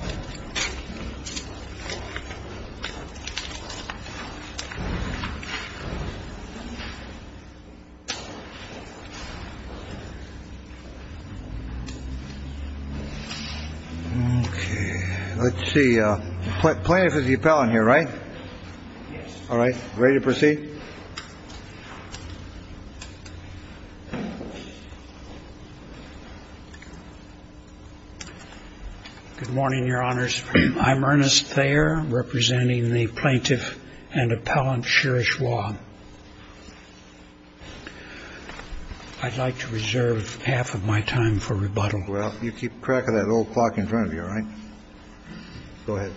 OK, let's see what plan for the appellant here, right? All right, ready to proceed? Good morning, Your Honors. I'm Ernest Thayer, representing the plaintiff and appellant, Cherish Wong. I'd like to reserve half of my time for rebuttal. Well, you keep track of that old clock in front of you, all right? Go ahead.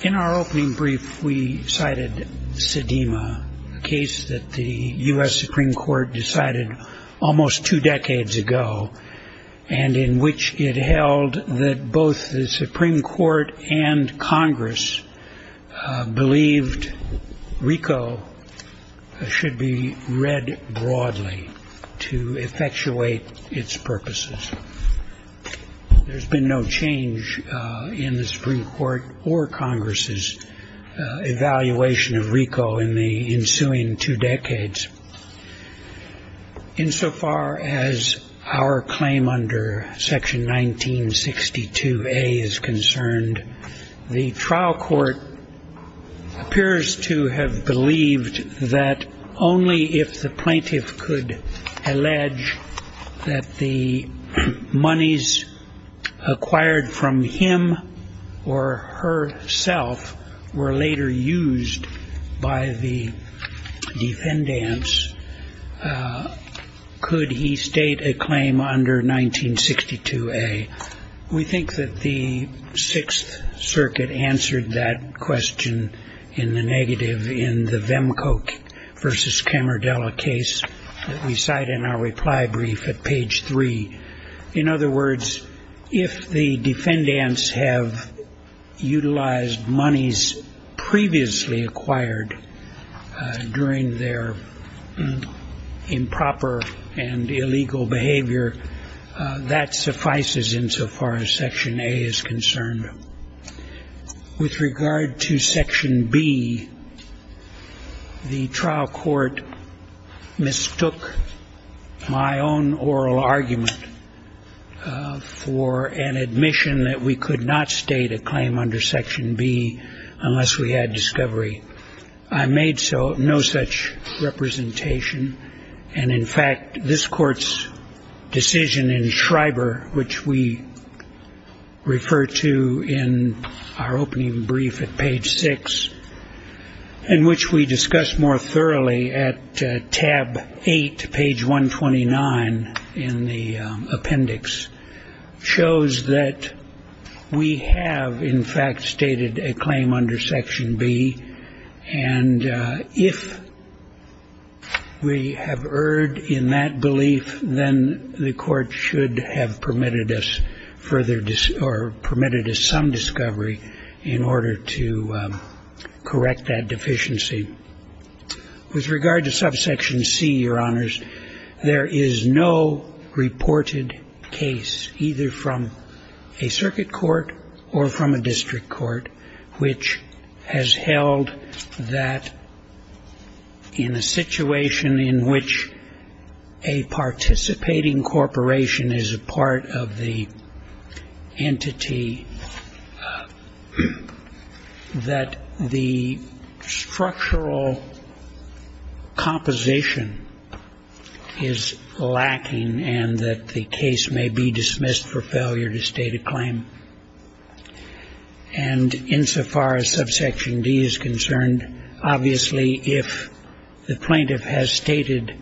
In our opening brief, we cited Sedema, a case that the U.S. Supreme Court decided almost two decades ago, and in which it held that both the Supreme Court and Congress believed RICO should be read broadly to effectuate its purposes. There's been no change in the Supreme Court or Congress's evaluation of RICO in the ensuing two decades. Insofar as our claim under Section 1962A is concerned, the trial court appears to have believed that only if the plaintiff could allege that the monies acquired from him or herself were later used by the defendant, in other words, could he state a claim under 1962A. We think that the Sixth Circuit answered that question in the negative in the Vemcoke v. Camardella case that we cite in our reply brief at page 3. In other words, if the defendants have utilized monies previously acquired during their improper and illegal behavior, that suffices insofar as Section A is concerned. With regard to Section B, the trial court mistook my own oral argument for an admission that we could not state a claim under Section B unless we had discovery. I made no such representation, and in fact, this Court's decision in Schreiber, which we refer to in our opening brief at page 6, in which we discuss more thoroughly at tab 8, page 129 in the appendix, shows that we have, in fact, stated a claim under Section B. And if we have erred in that belief, then the Court should have permitted us further or permitted us some discovery in order to correct that deficiency. With regard to Subsection C, Your Honors, there is no reported case, either from a circuit court or from a district court, which has held that in a situation in which a participating corporation is a part of the entity, that the structural composition is lacking and that the case may be dismissed for failure to state a claim. And insofar as Subsection D is concerned, obviously, if the plaintiff has stated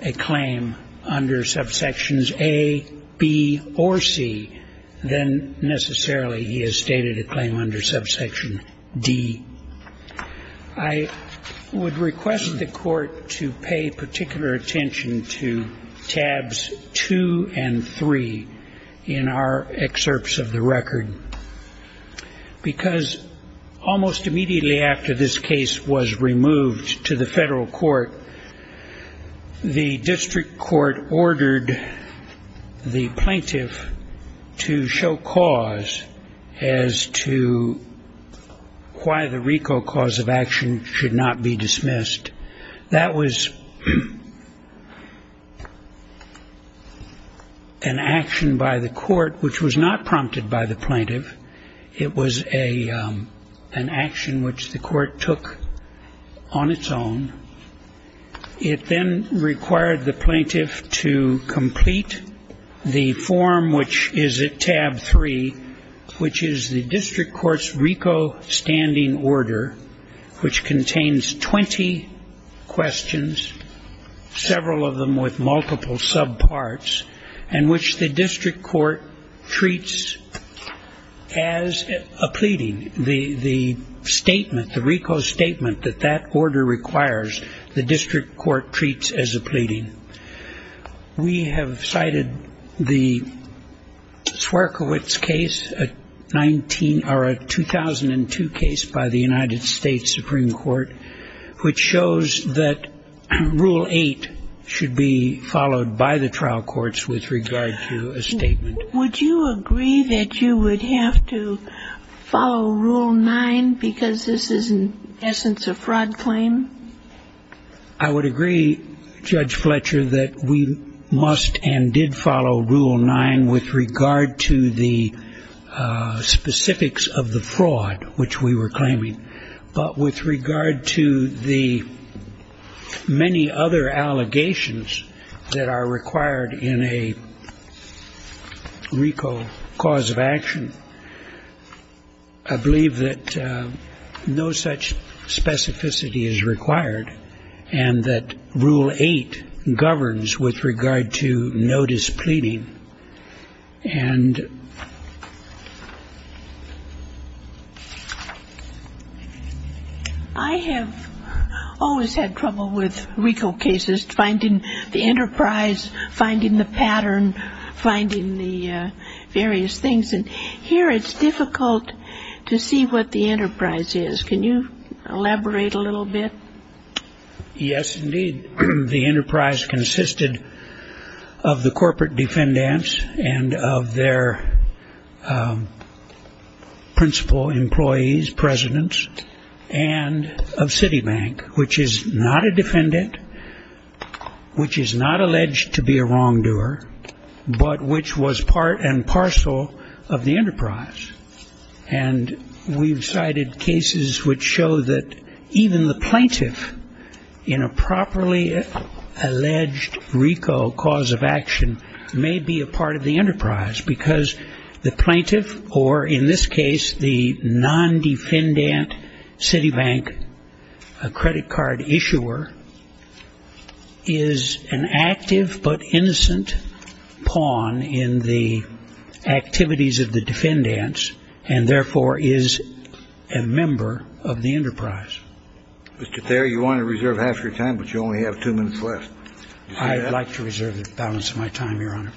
a claim under Subsections A, B, or C, then necessarily he has stated a claim under Subsection D. I would request the Court to pay particular attention to tabs 2 and 3 in our excerpts of the record, because almost immediately after this case was removed to the federal court, the district court ordered the plaintiff to show cause as to why the RICO cause of action should not be dismissed. That was an action by the court which was not prompted by the plaintiff. It was an action which the court took on its own. It then required the plaintiff to complete the form which is at tab 3, which is the district court's RICO standing order, which contains 20 questions, several of them with multiple subparts, and which the district court treats as a pleading, the statement, the RICO statement that that order requires the district court treats as a pleading. We have cited the Swierkiewicz case, a 2002 case by the United States Supreme Court, which shows that Rule 8 should be followed by the trial courts with regard to a statement. Would you agree that you would have to follow Rule 9 because this is, in essence, a fraud claim? I would agree, Judge Fletcher, that we must and did follow Rule 9 with regard to the specifics of the fraud which we were claiming. But with regard to the many other allegations that are required in a RICO cause of action, I believe that no such specificity is required. And that Rule 8 governs with regard to no displeading. I have always had trouble with RICO cases, finding the enterprise, finding the pattern, finding the various things. And here it's difficult to see what the enterprise is. Can you elaborate a little bit? Yes, indeed. The enterprise consisted of the corporate defendants and of their principal employees, presidents, and of Citibank, which is not a defendant, which is not alleged to be a wrongdoer, but which was part and parcel of the enterprise. And we've cited cases which show that even the plaintiff in a properly alleged RICO cause of action may be a part of the enterprise, because the plaintiff or, in this case, the non-defendant Citibank, a credit card issuer, is an active but innocent pawn in the activities of the defendants, and therefore is a member of the enterprise. Mr. Thayer, you wanted to reserve half your time, but you only have two minutes left. I'd like to reserve the balance of my time, Your Honor.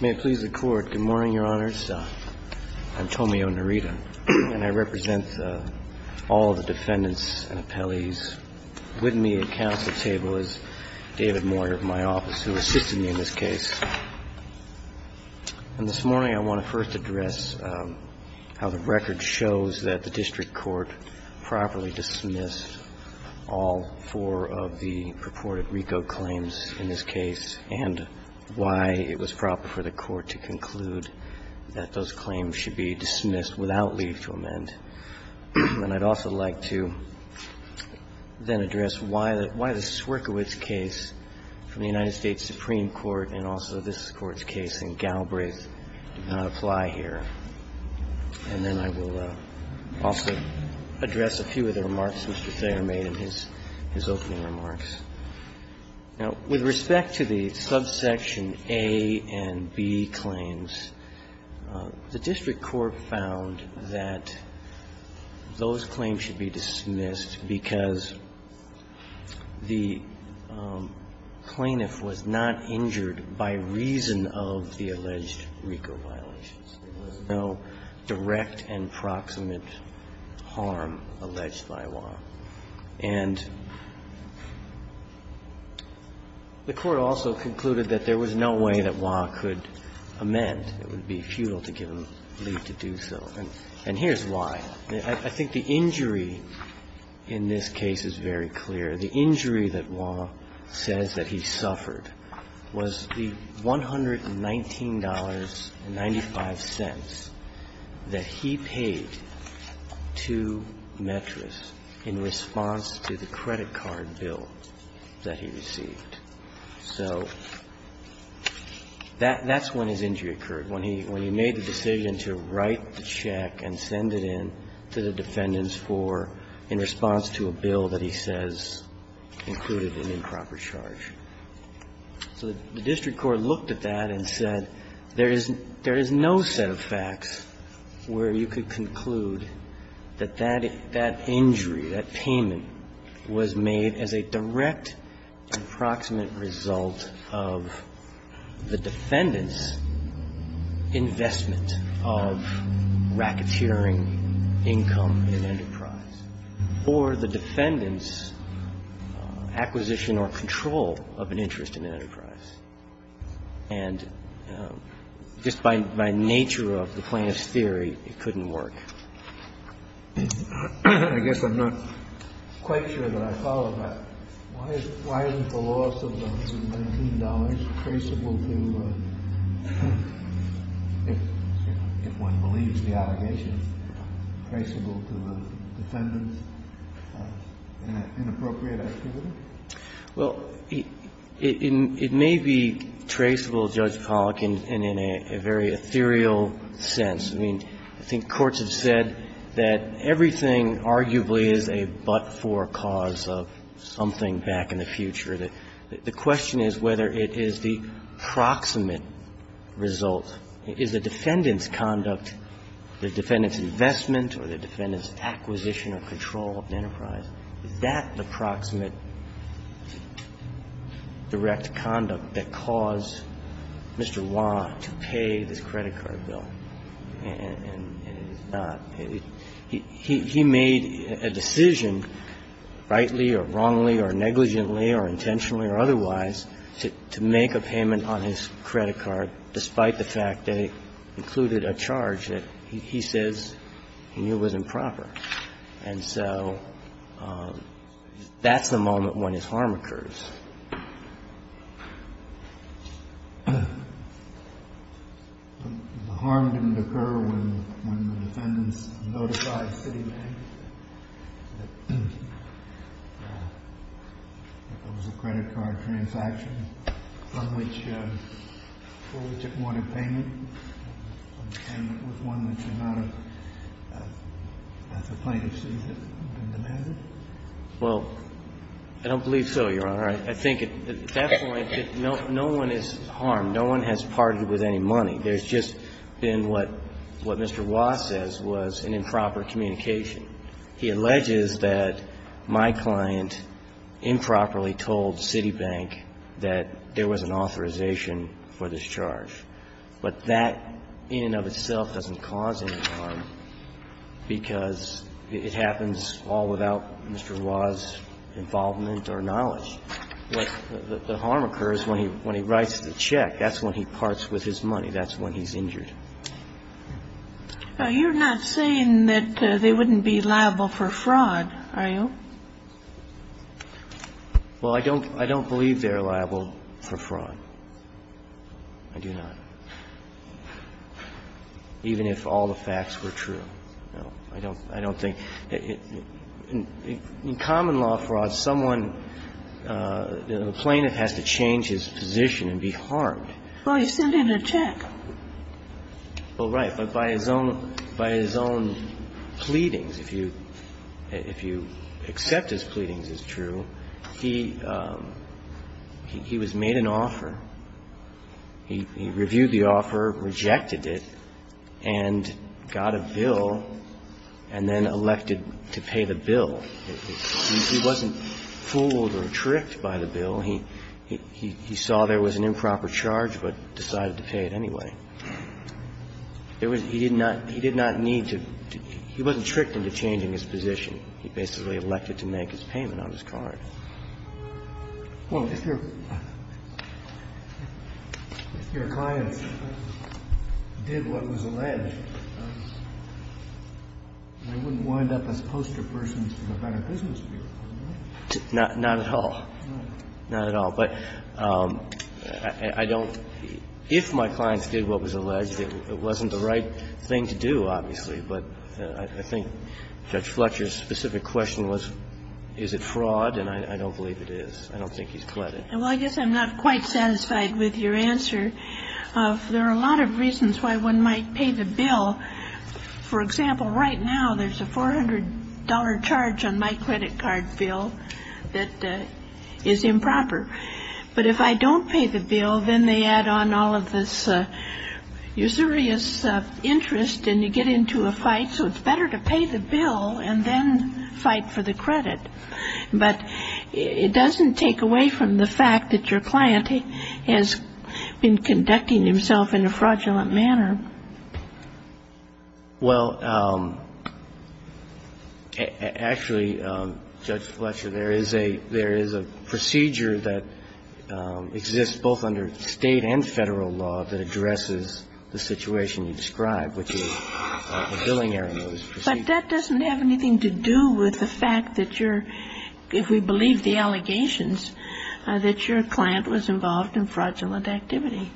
May it please the Court. Good morning, Your Honors. I'm Tomio Narita, and I represent all of the defendants and appellees. With me at counsel's table is David Moyer of my office, who assisted me in this case. And this morning I want to first address how the record shows that the district court properly dismissed all four of the purported RICO claims in this case and why it was proper for the Court to conclude that those claims should be dismissed without leave to amend. And I'd also like to then address why the Swierkiewicz case from the United States Supreme Court and also this Court's case in Galbraith did not apply here. And then I will also address a few of the remarks Mr. Thayer made in his opening remarks. Now, with respect to the subsection A and B claims, the district court found that those claims should be dismissed because the plaintiff was not injured by reason of the alleged RICO violations. There was no direct and proximate harm alleged by law. And the Court also concluded that there was no way that Waugh could amend. It would be futile to give him leave to do so. And here's why. I think the injury in this case is very clear. The injury that Waugh says that he suffered was the $119.95 that he paid to Metras in response to the credit card bill that he received. So that's when his injury occurred, when he made the decision to write the check and send it in to the defendants for, in response to a bill that he says included an improper charge. So the district court looked at that and said there is no set of facts where you could conclude that that injury, that payment, was made as a direct and proximate result of the defendant's investment of racketeering income in enterprise, or the defendant's acquisition or control of an interest in enterprise. And just by nature of the plaintiff's theory, it couldn't work. I guess I'm not quite sure that I follow that. Why isn't the loss of the $119 traceable to, if one believes the allegations, traceable to the defendant's inappropriate activity? Well, it may be traceable, Judge Pollack, and in a very ethereal sense. I mean, I think courts have said that everything arguably is a but-for cause of something back in the future. The question is whether it is the proximate result. Is the defendant's conduct, the defendant's investment or the defendant's acquisition or control of enterprise, is that the proximate direct conduct that caused Mr. Wah to pay this credit card bill? And it is not. He made a decision, rightly or wrongly or negligently or intentionally or otherwise, to make a payment on his credit card despite the fact that it included a charge that he says he knew was improper. And so that's the moment when his harm occurs. The harm didn't occur when the defendants notified Citibank that there was a credit card transaction from which it wanted payment and it was one that should not have, as a plaintiff sees it, been demanded? Well, I don't believe so, Your Honor. I don't believe so. I think at that point, no one is harmed. No one has parted with any money. There's just been what Mr. Wah says was an improper communication. He alleges that my client improperly told Citibank that there was an authorization for this charge. But that in and of itself doesn't cause any harm because it happens all without Mr. Wah's involvement or knowledge. The harm occurs when he writes the check. That's when he parts with his money. That's when he's injured. You're not saying that they wouldn't be liable for fraud, are you? Well, I don't believe they're liable for fraud. I do not, even if all the facts were true. No, I don't think. In common law fraud, someone, the plaintiff has to change his position and be harmed. Well, he sent in a check. Well, right. But by his own pleadings, if you accept his pleadings as true, he was made an offer. He reviewed the offer, rejected it, and got a bill and then elected to pay the bill. He wasn't fooled or tricked by the bill. He saw there was an improper charge but decided to pay it anyway. He did not need to – he wasn't tricked into changing his position. He basically elected to make his payment on his card. Well, if your clients did what was alleged, they wouldn't wind up as poster persons for the better business people, would they? Not at all. Not at all. But I don't – if my clients did what was alleged, it wasn't the right thing to do, obviously. But I think Judge Fletcher's specific question was, is it fraud? And I don't believe it is. I don't think he's pleading. Well, I guess I'm not quite satisfied with your answer. There are a lot of reasons why one might pay the bill. For example, right now, there's a $400 charge on my credit card bill that is improper. But if I don't pay the bill, then they add on all of this usurious interest and you get into a fight. So it's better to pay the bill and then fight for the credit. But it doesn't take away from the fact that your client has been conducting himself in a fraudulent manner. Well, actually, Judge Fletcher, there is a – there is a procedure that exists both under State and Federal law that addresses the situation you describe, which is a billing error notice procedure. But that doesn't have anything to do with the fact that you're – if we believe the allegations, that your client was involved in fraudulent activity.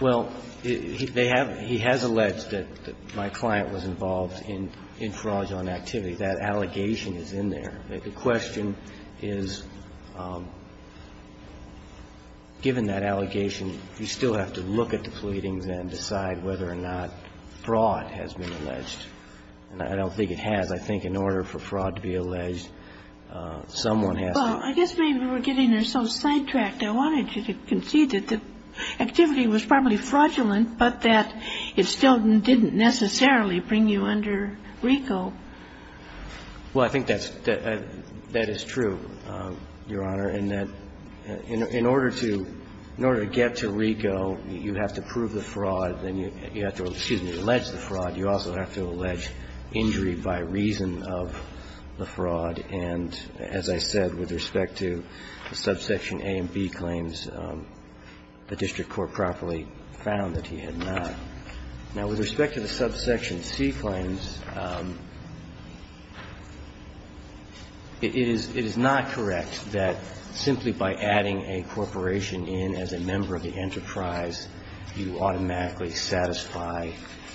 Well, they have – he has alleged that my client was involved in fraudulent activity. That allegation is in there. The question is, given that allegation, you still have to look at the pleadings and decide whether or not fraud has been alleged. And I don't think it has. I think in order for fraud to be alleged, someone has to – Well, I guess maybe we're getting ourselves sidetracked. I wanted you to concede that the activity was probably fraudulent, but that it still didn't necessarily bring you under RICO. Well, I think that's – that is true, Your Honor, and that in order to – in order to get to RICO, you have to prove the fraud. Then you have to – excuse me – allege the fraud. You also have to allege injury by reason of the fraud. And as I said, with respect to subsection A and B claims, the district court properly found that he had not. Now, with respect to the subsection C claims, it is – it is not correct that simply by adding a corporation in as a member of the enterprise, you automatically satisfy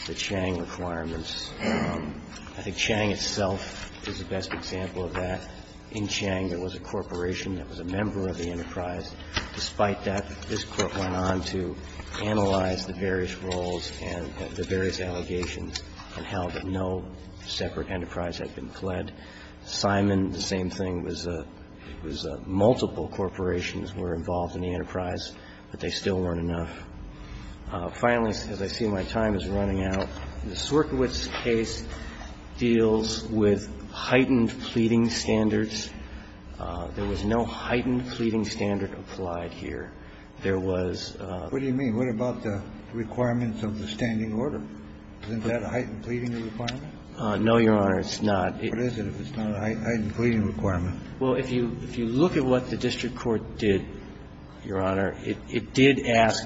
the Chang requirements. I think Chang itself is the best example of that. In Chang, there was a corporation that was a member of the enterprise. Despite that, this Court went on to analyze the various roles and the various allegations and how that no separate enterprise had been fled. Simon, the same thing, was a – was a – multiple corporations were involved in the enterprise, but they still weren't enough. Finally, as I see my time is running out, the Swierkiewicz case deals with heightened pleading standards. There was no heightened pleading standard applied here. There was a – What do you mean? What about the requirements of the standing order? Isn't that a heightened pleading requirement? No, Your Honor, it's not. What is it if it's not a heightened pleading requirement? Well, if you – if you look at what the district court did, Your Honor, it did ask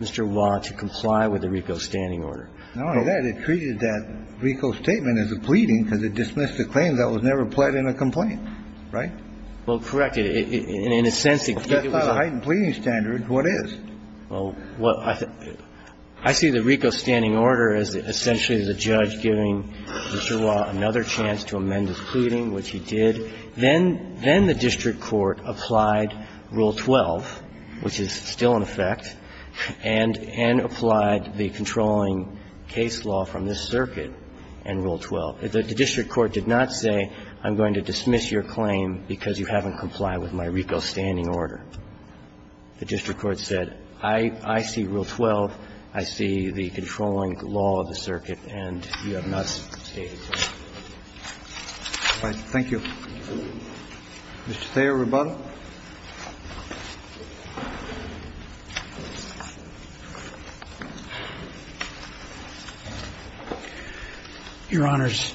Mr. Waugh to comply with the RICO standing order. No, it didn't. It treated that RICO statement as a pleading because it dismissed the claim that was never pled in a complaint, right? Well, correct. In a sense, it was a – If that's not a heightened pleading standard, what is? Well, what – I see the RICO standing order as essentially the judge giving Mr. Waugh another chance to amend his pleading, which he did. So then the district court applied Rule 12, which is still in effect, and applied the controlling case law from this circuit and Rule 12. The district court did not say, I'm going to dismiss your claim because you haven't complied with my RICO standing order. The district court said, I see Rule 12, I see the controlling law of the circuit, and you have not stated it. All right. Thank you. Mr. Thayer, rebuttal. Your Honors,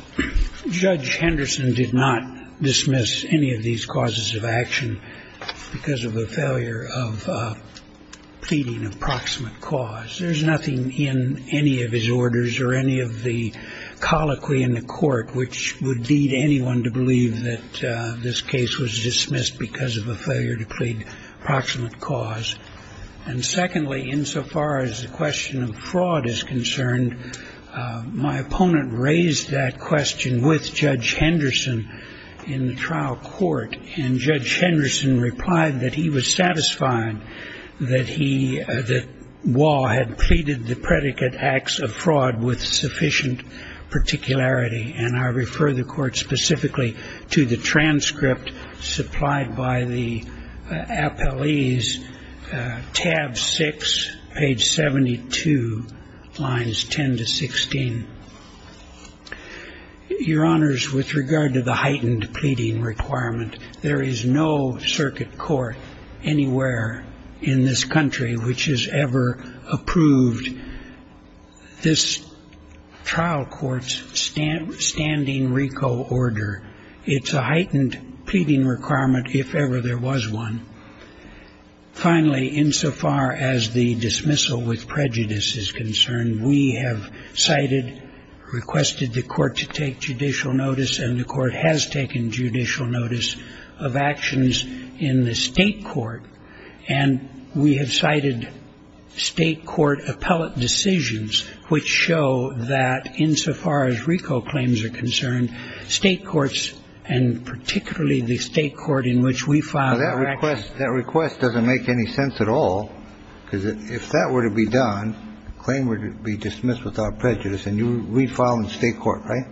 Judge Henderson did not dismiss any of these causes of action because of a failure of pleading approximate cause. There's nothing in any of his orders or any of the colloquy in the court which would lead anyone to believe that this case was dismissed because of a failure to plead approximate cause. And secondly, insofar as the question of fraud is concerned, my opponent raised that question with Judge Henderson in the trial court, and Judge Henderson replied that he was satisfied that he – that Waugh had pleaded the predicate acts of fraud with sufficient particularity. And I refer the court specifically to the transcript supplied by the appellee's tab 6, page 72, lines 10 to 16. Your Honors, with regard to the heightened pleading requirement, there is no circuit court anywhere in this country which has ever approved this trial court's standing RICO order. It's a heightened pleading requirement if ever there was one. Finally, insofar as the dismissal with prejudice is concerned, we have cited, requested the court to take judicial notice, and the court has taken judicial notice of actions in the state court. And we have cited state court appellate decisions which show that insofar as RICO claims are concerned, state courts, and particularly the state court in which we filed our actions. That request doesn't make any sense at all, because if that were to be done, the claim would be dismissed without prejudice, and we'd file in state court, right?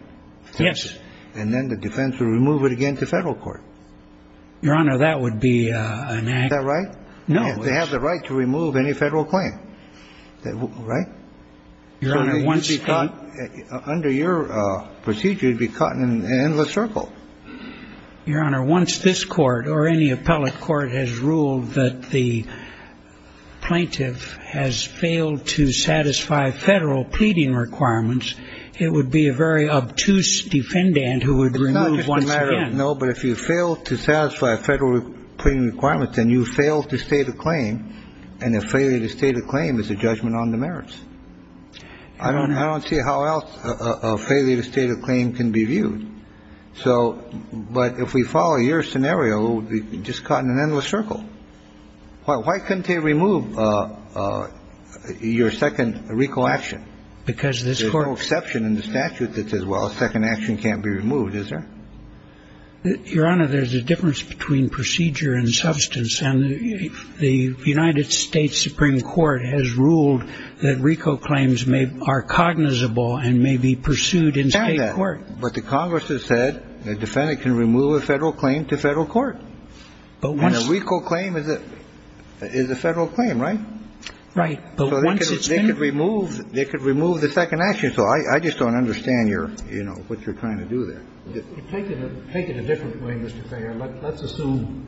Yes. And then the defense would remove it again to federal court. Your Honor, that would be an act. Is that right? No. They have the right to remove any federal claim, right? Under your procedure, you'd be caught in an endless circle. Your Honor, once this court or any appellate court has ruled that the plaintiff has failed to satisfy federal pleading requirements, it would be a very obtuse defendant who would remove once again. No, but if you fail to satisfy federal pleading requirements, then you fail to state a claim, and a failure to state a claim is a judgment on the merits. I don't see how else a failure to state a claim can be viewed. But if we follow your scenario, we'd be just caught in an endless circle. Why couldn't they remove your second RICO action? Because this court — There's no exception in the statute that says, well, a second action can't be removed. Is there? Your Honor, there's a difference between procedure and substance. And the United States Supreme Court has ruled that RICO claims are cognizable and may be pursued in state court. But the Congress has said a defendant can remove a federal claim to federal court. But once — And a RICO claim is a federal claim, right? Right. But once it's been — So they could remove the second action. So I just don't understand your, you know, what you're trying to do there. Take it a different way, Mr. Thayer. Let's assume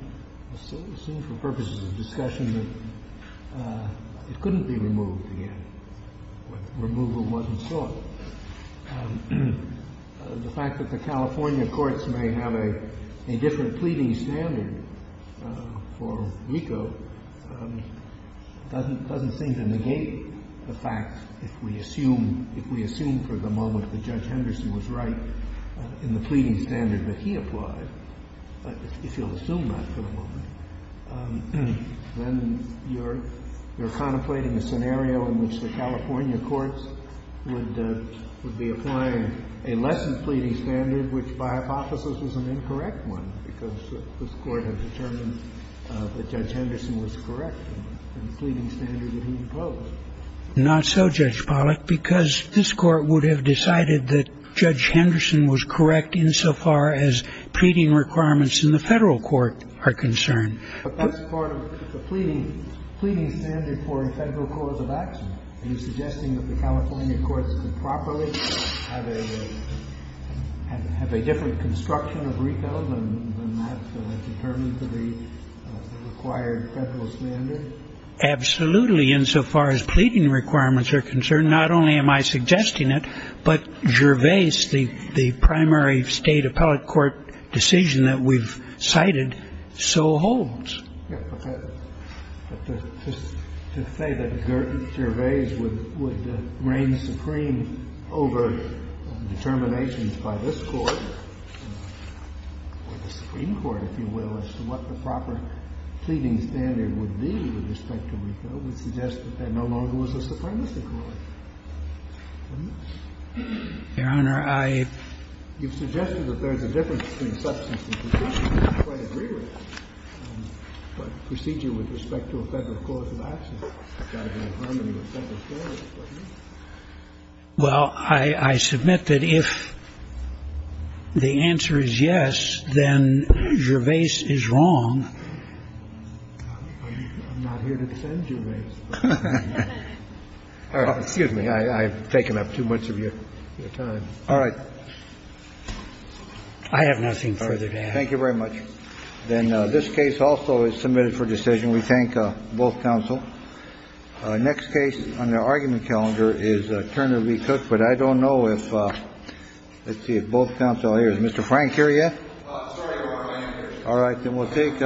for purposes of discussion that it couldn't be removed again. Removal wasn't sought. The fact that the California courts may have a different pleading standard for RICO doesn't seem to negate the fact, if we assume for the moment that Judge Henderson was right in the pleading standard that he applied, if you'll assume that for the moment, then you're contemplating a scenario in which the California courts would be applying a lessened pleading standard, which by hypothesis is an incorrect one, because this Court has determined that Judge Henderson was correct in the pleading standard that he imposed. Not so, Judge Pollack, because this Court would have decided that Judge Henderson was correct insofar as pleading requirements in the federal court are concerned. But that's part of the pleading standard for a federal cause of action. Are you suggesting that the California courts could properly have a different construction of RICO than that determined for the required federal standard? Absolutely, insofar as pleading requirements are concerned. Not only am I suggesting it, but Gervais, the primary State appellate court decision that we've cited, so holds. Okay. But to say that Gervais would reign supreme over determinations by this Court or the that no longer was a supremacy court. Your Honor, I... You've suggested that there's a difference between substance and presumption. I quite agree with that. But procedure with respect to a federal cause of action, it's got to be in harmony with federal standards, doesn't it? Well, I submit that if the answer is yes, then Gervais is wrong. I'm not here to defend Gervais. Excuse me. I've taken up too much of your time. All right. I have nothing further to add. Thank you very much. Then this case also is submitted for decision. We thank both counsel. Next case on the argument calendar is Turner v. Cook. But I don't know if, let's see, if both counsel are here. Is Mr. Frank here yet? I'm sorry, Your Honor, I'm not here. All right. Then we'll take...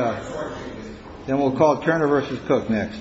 Then we'll call Turner v. Cook next.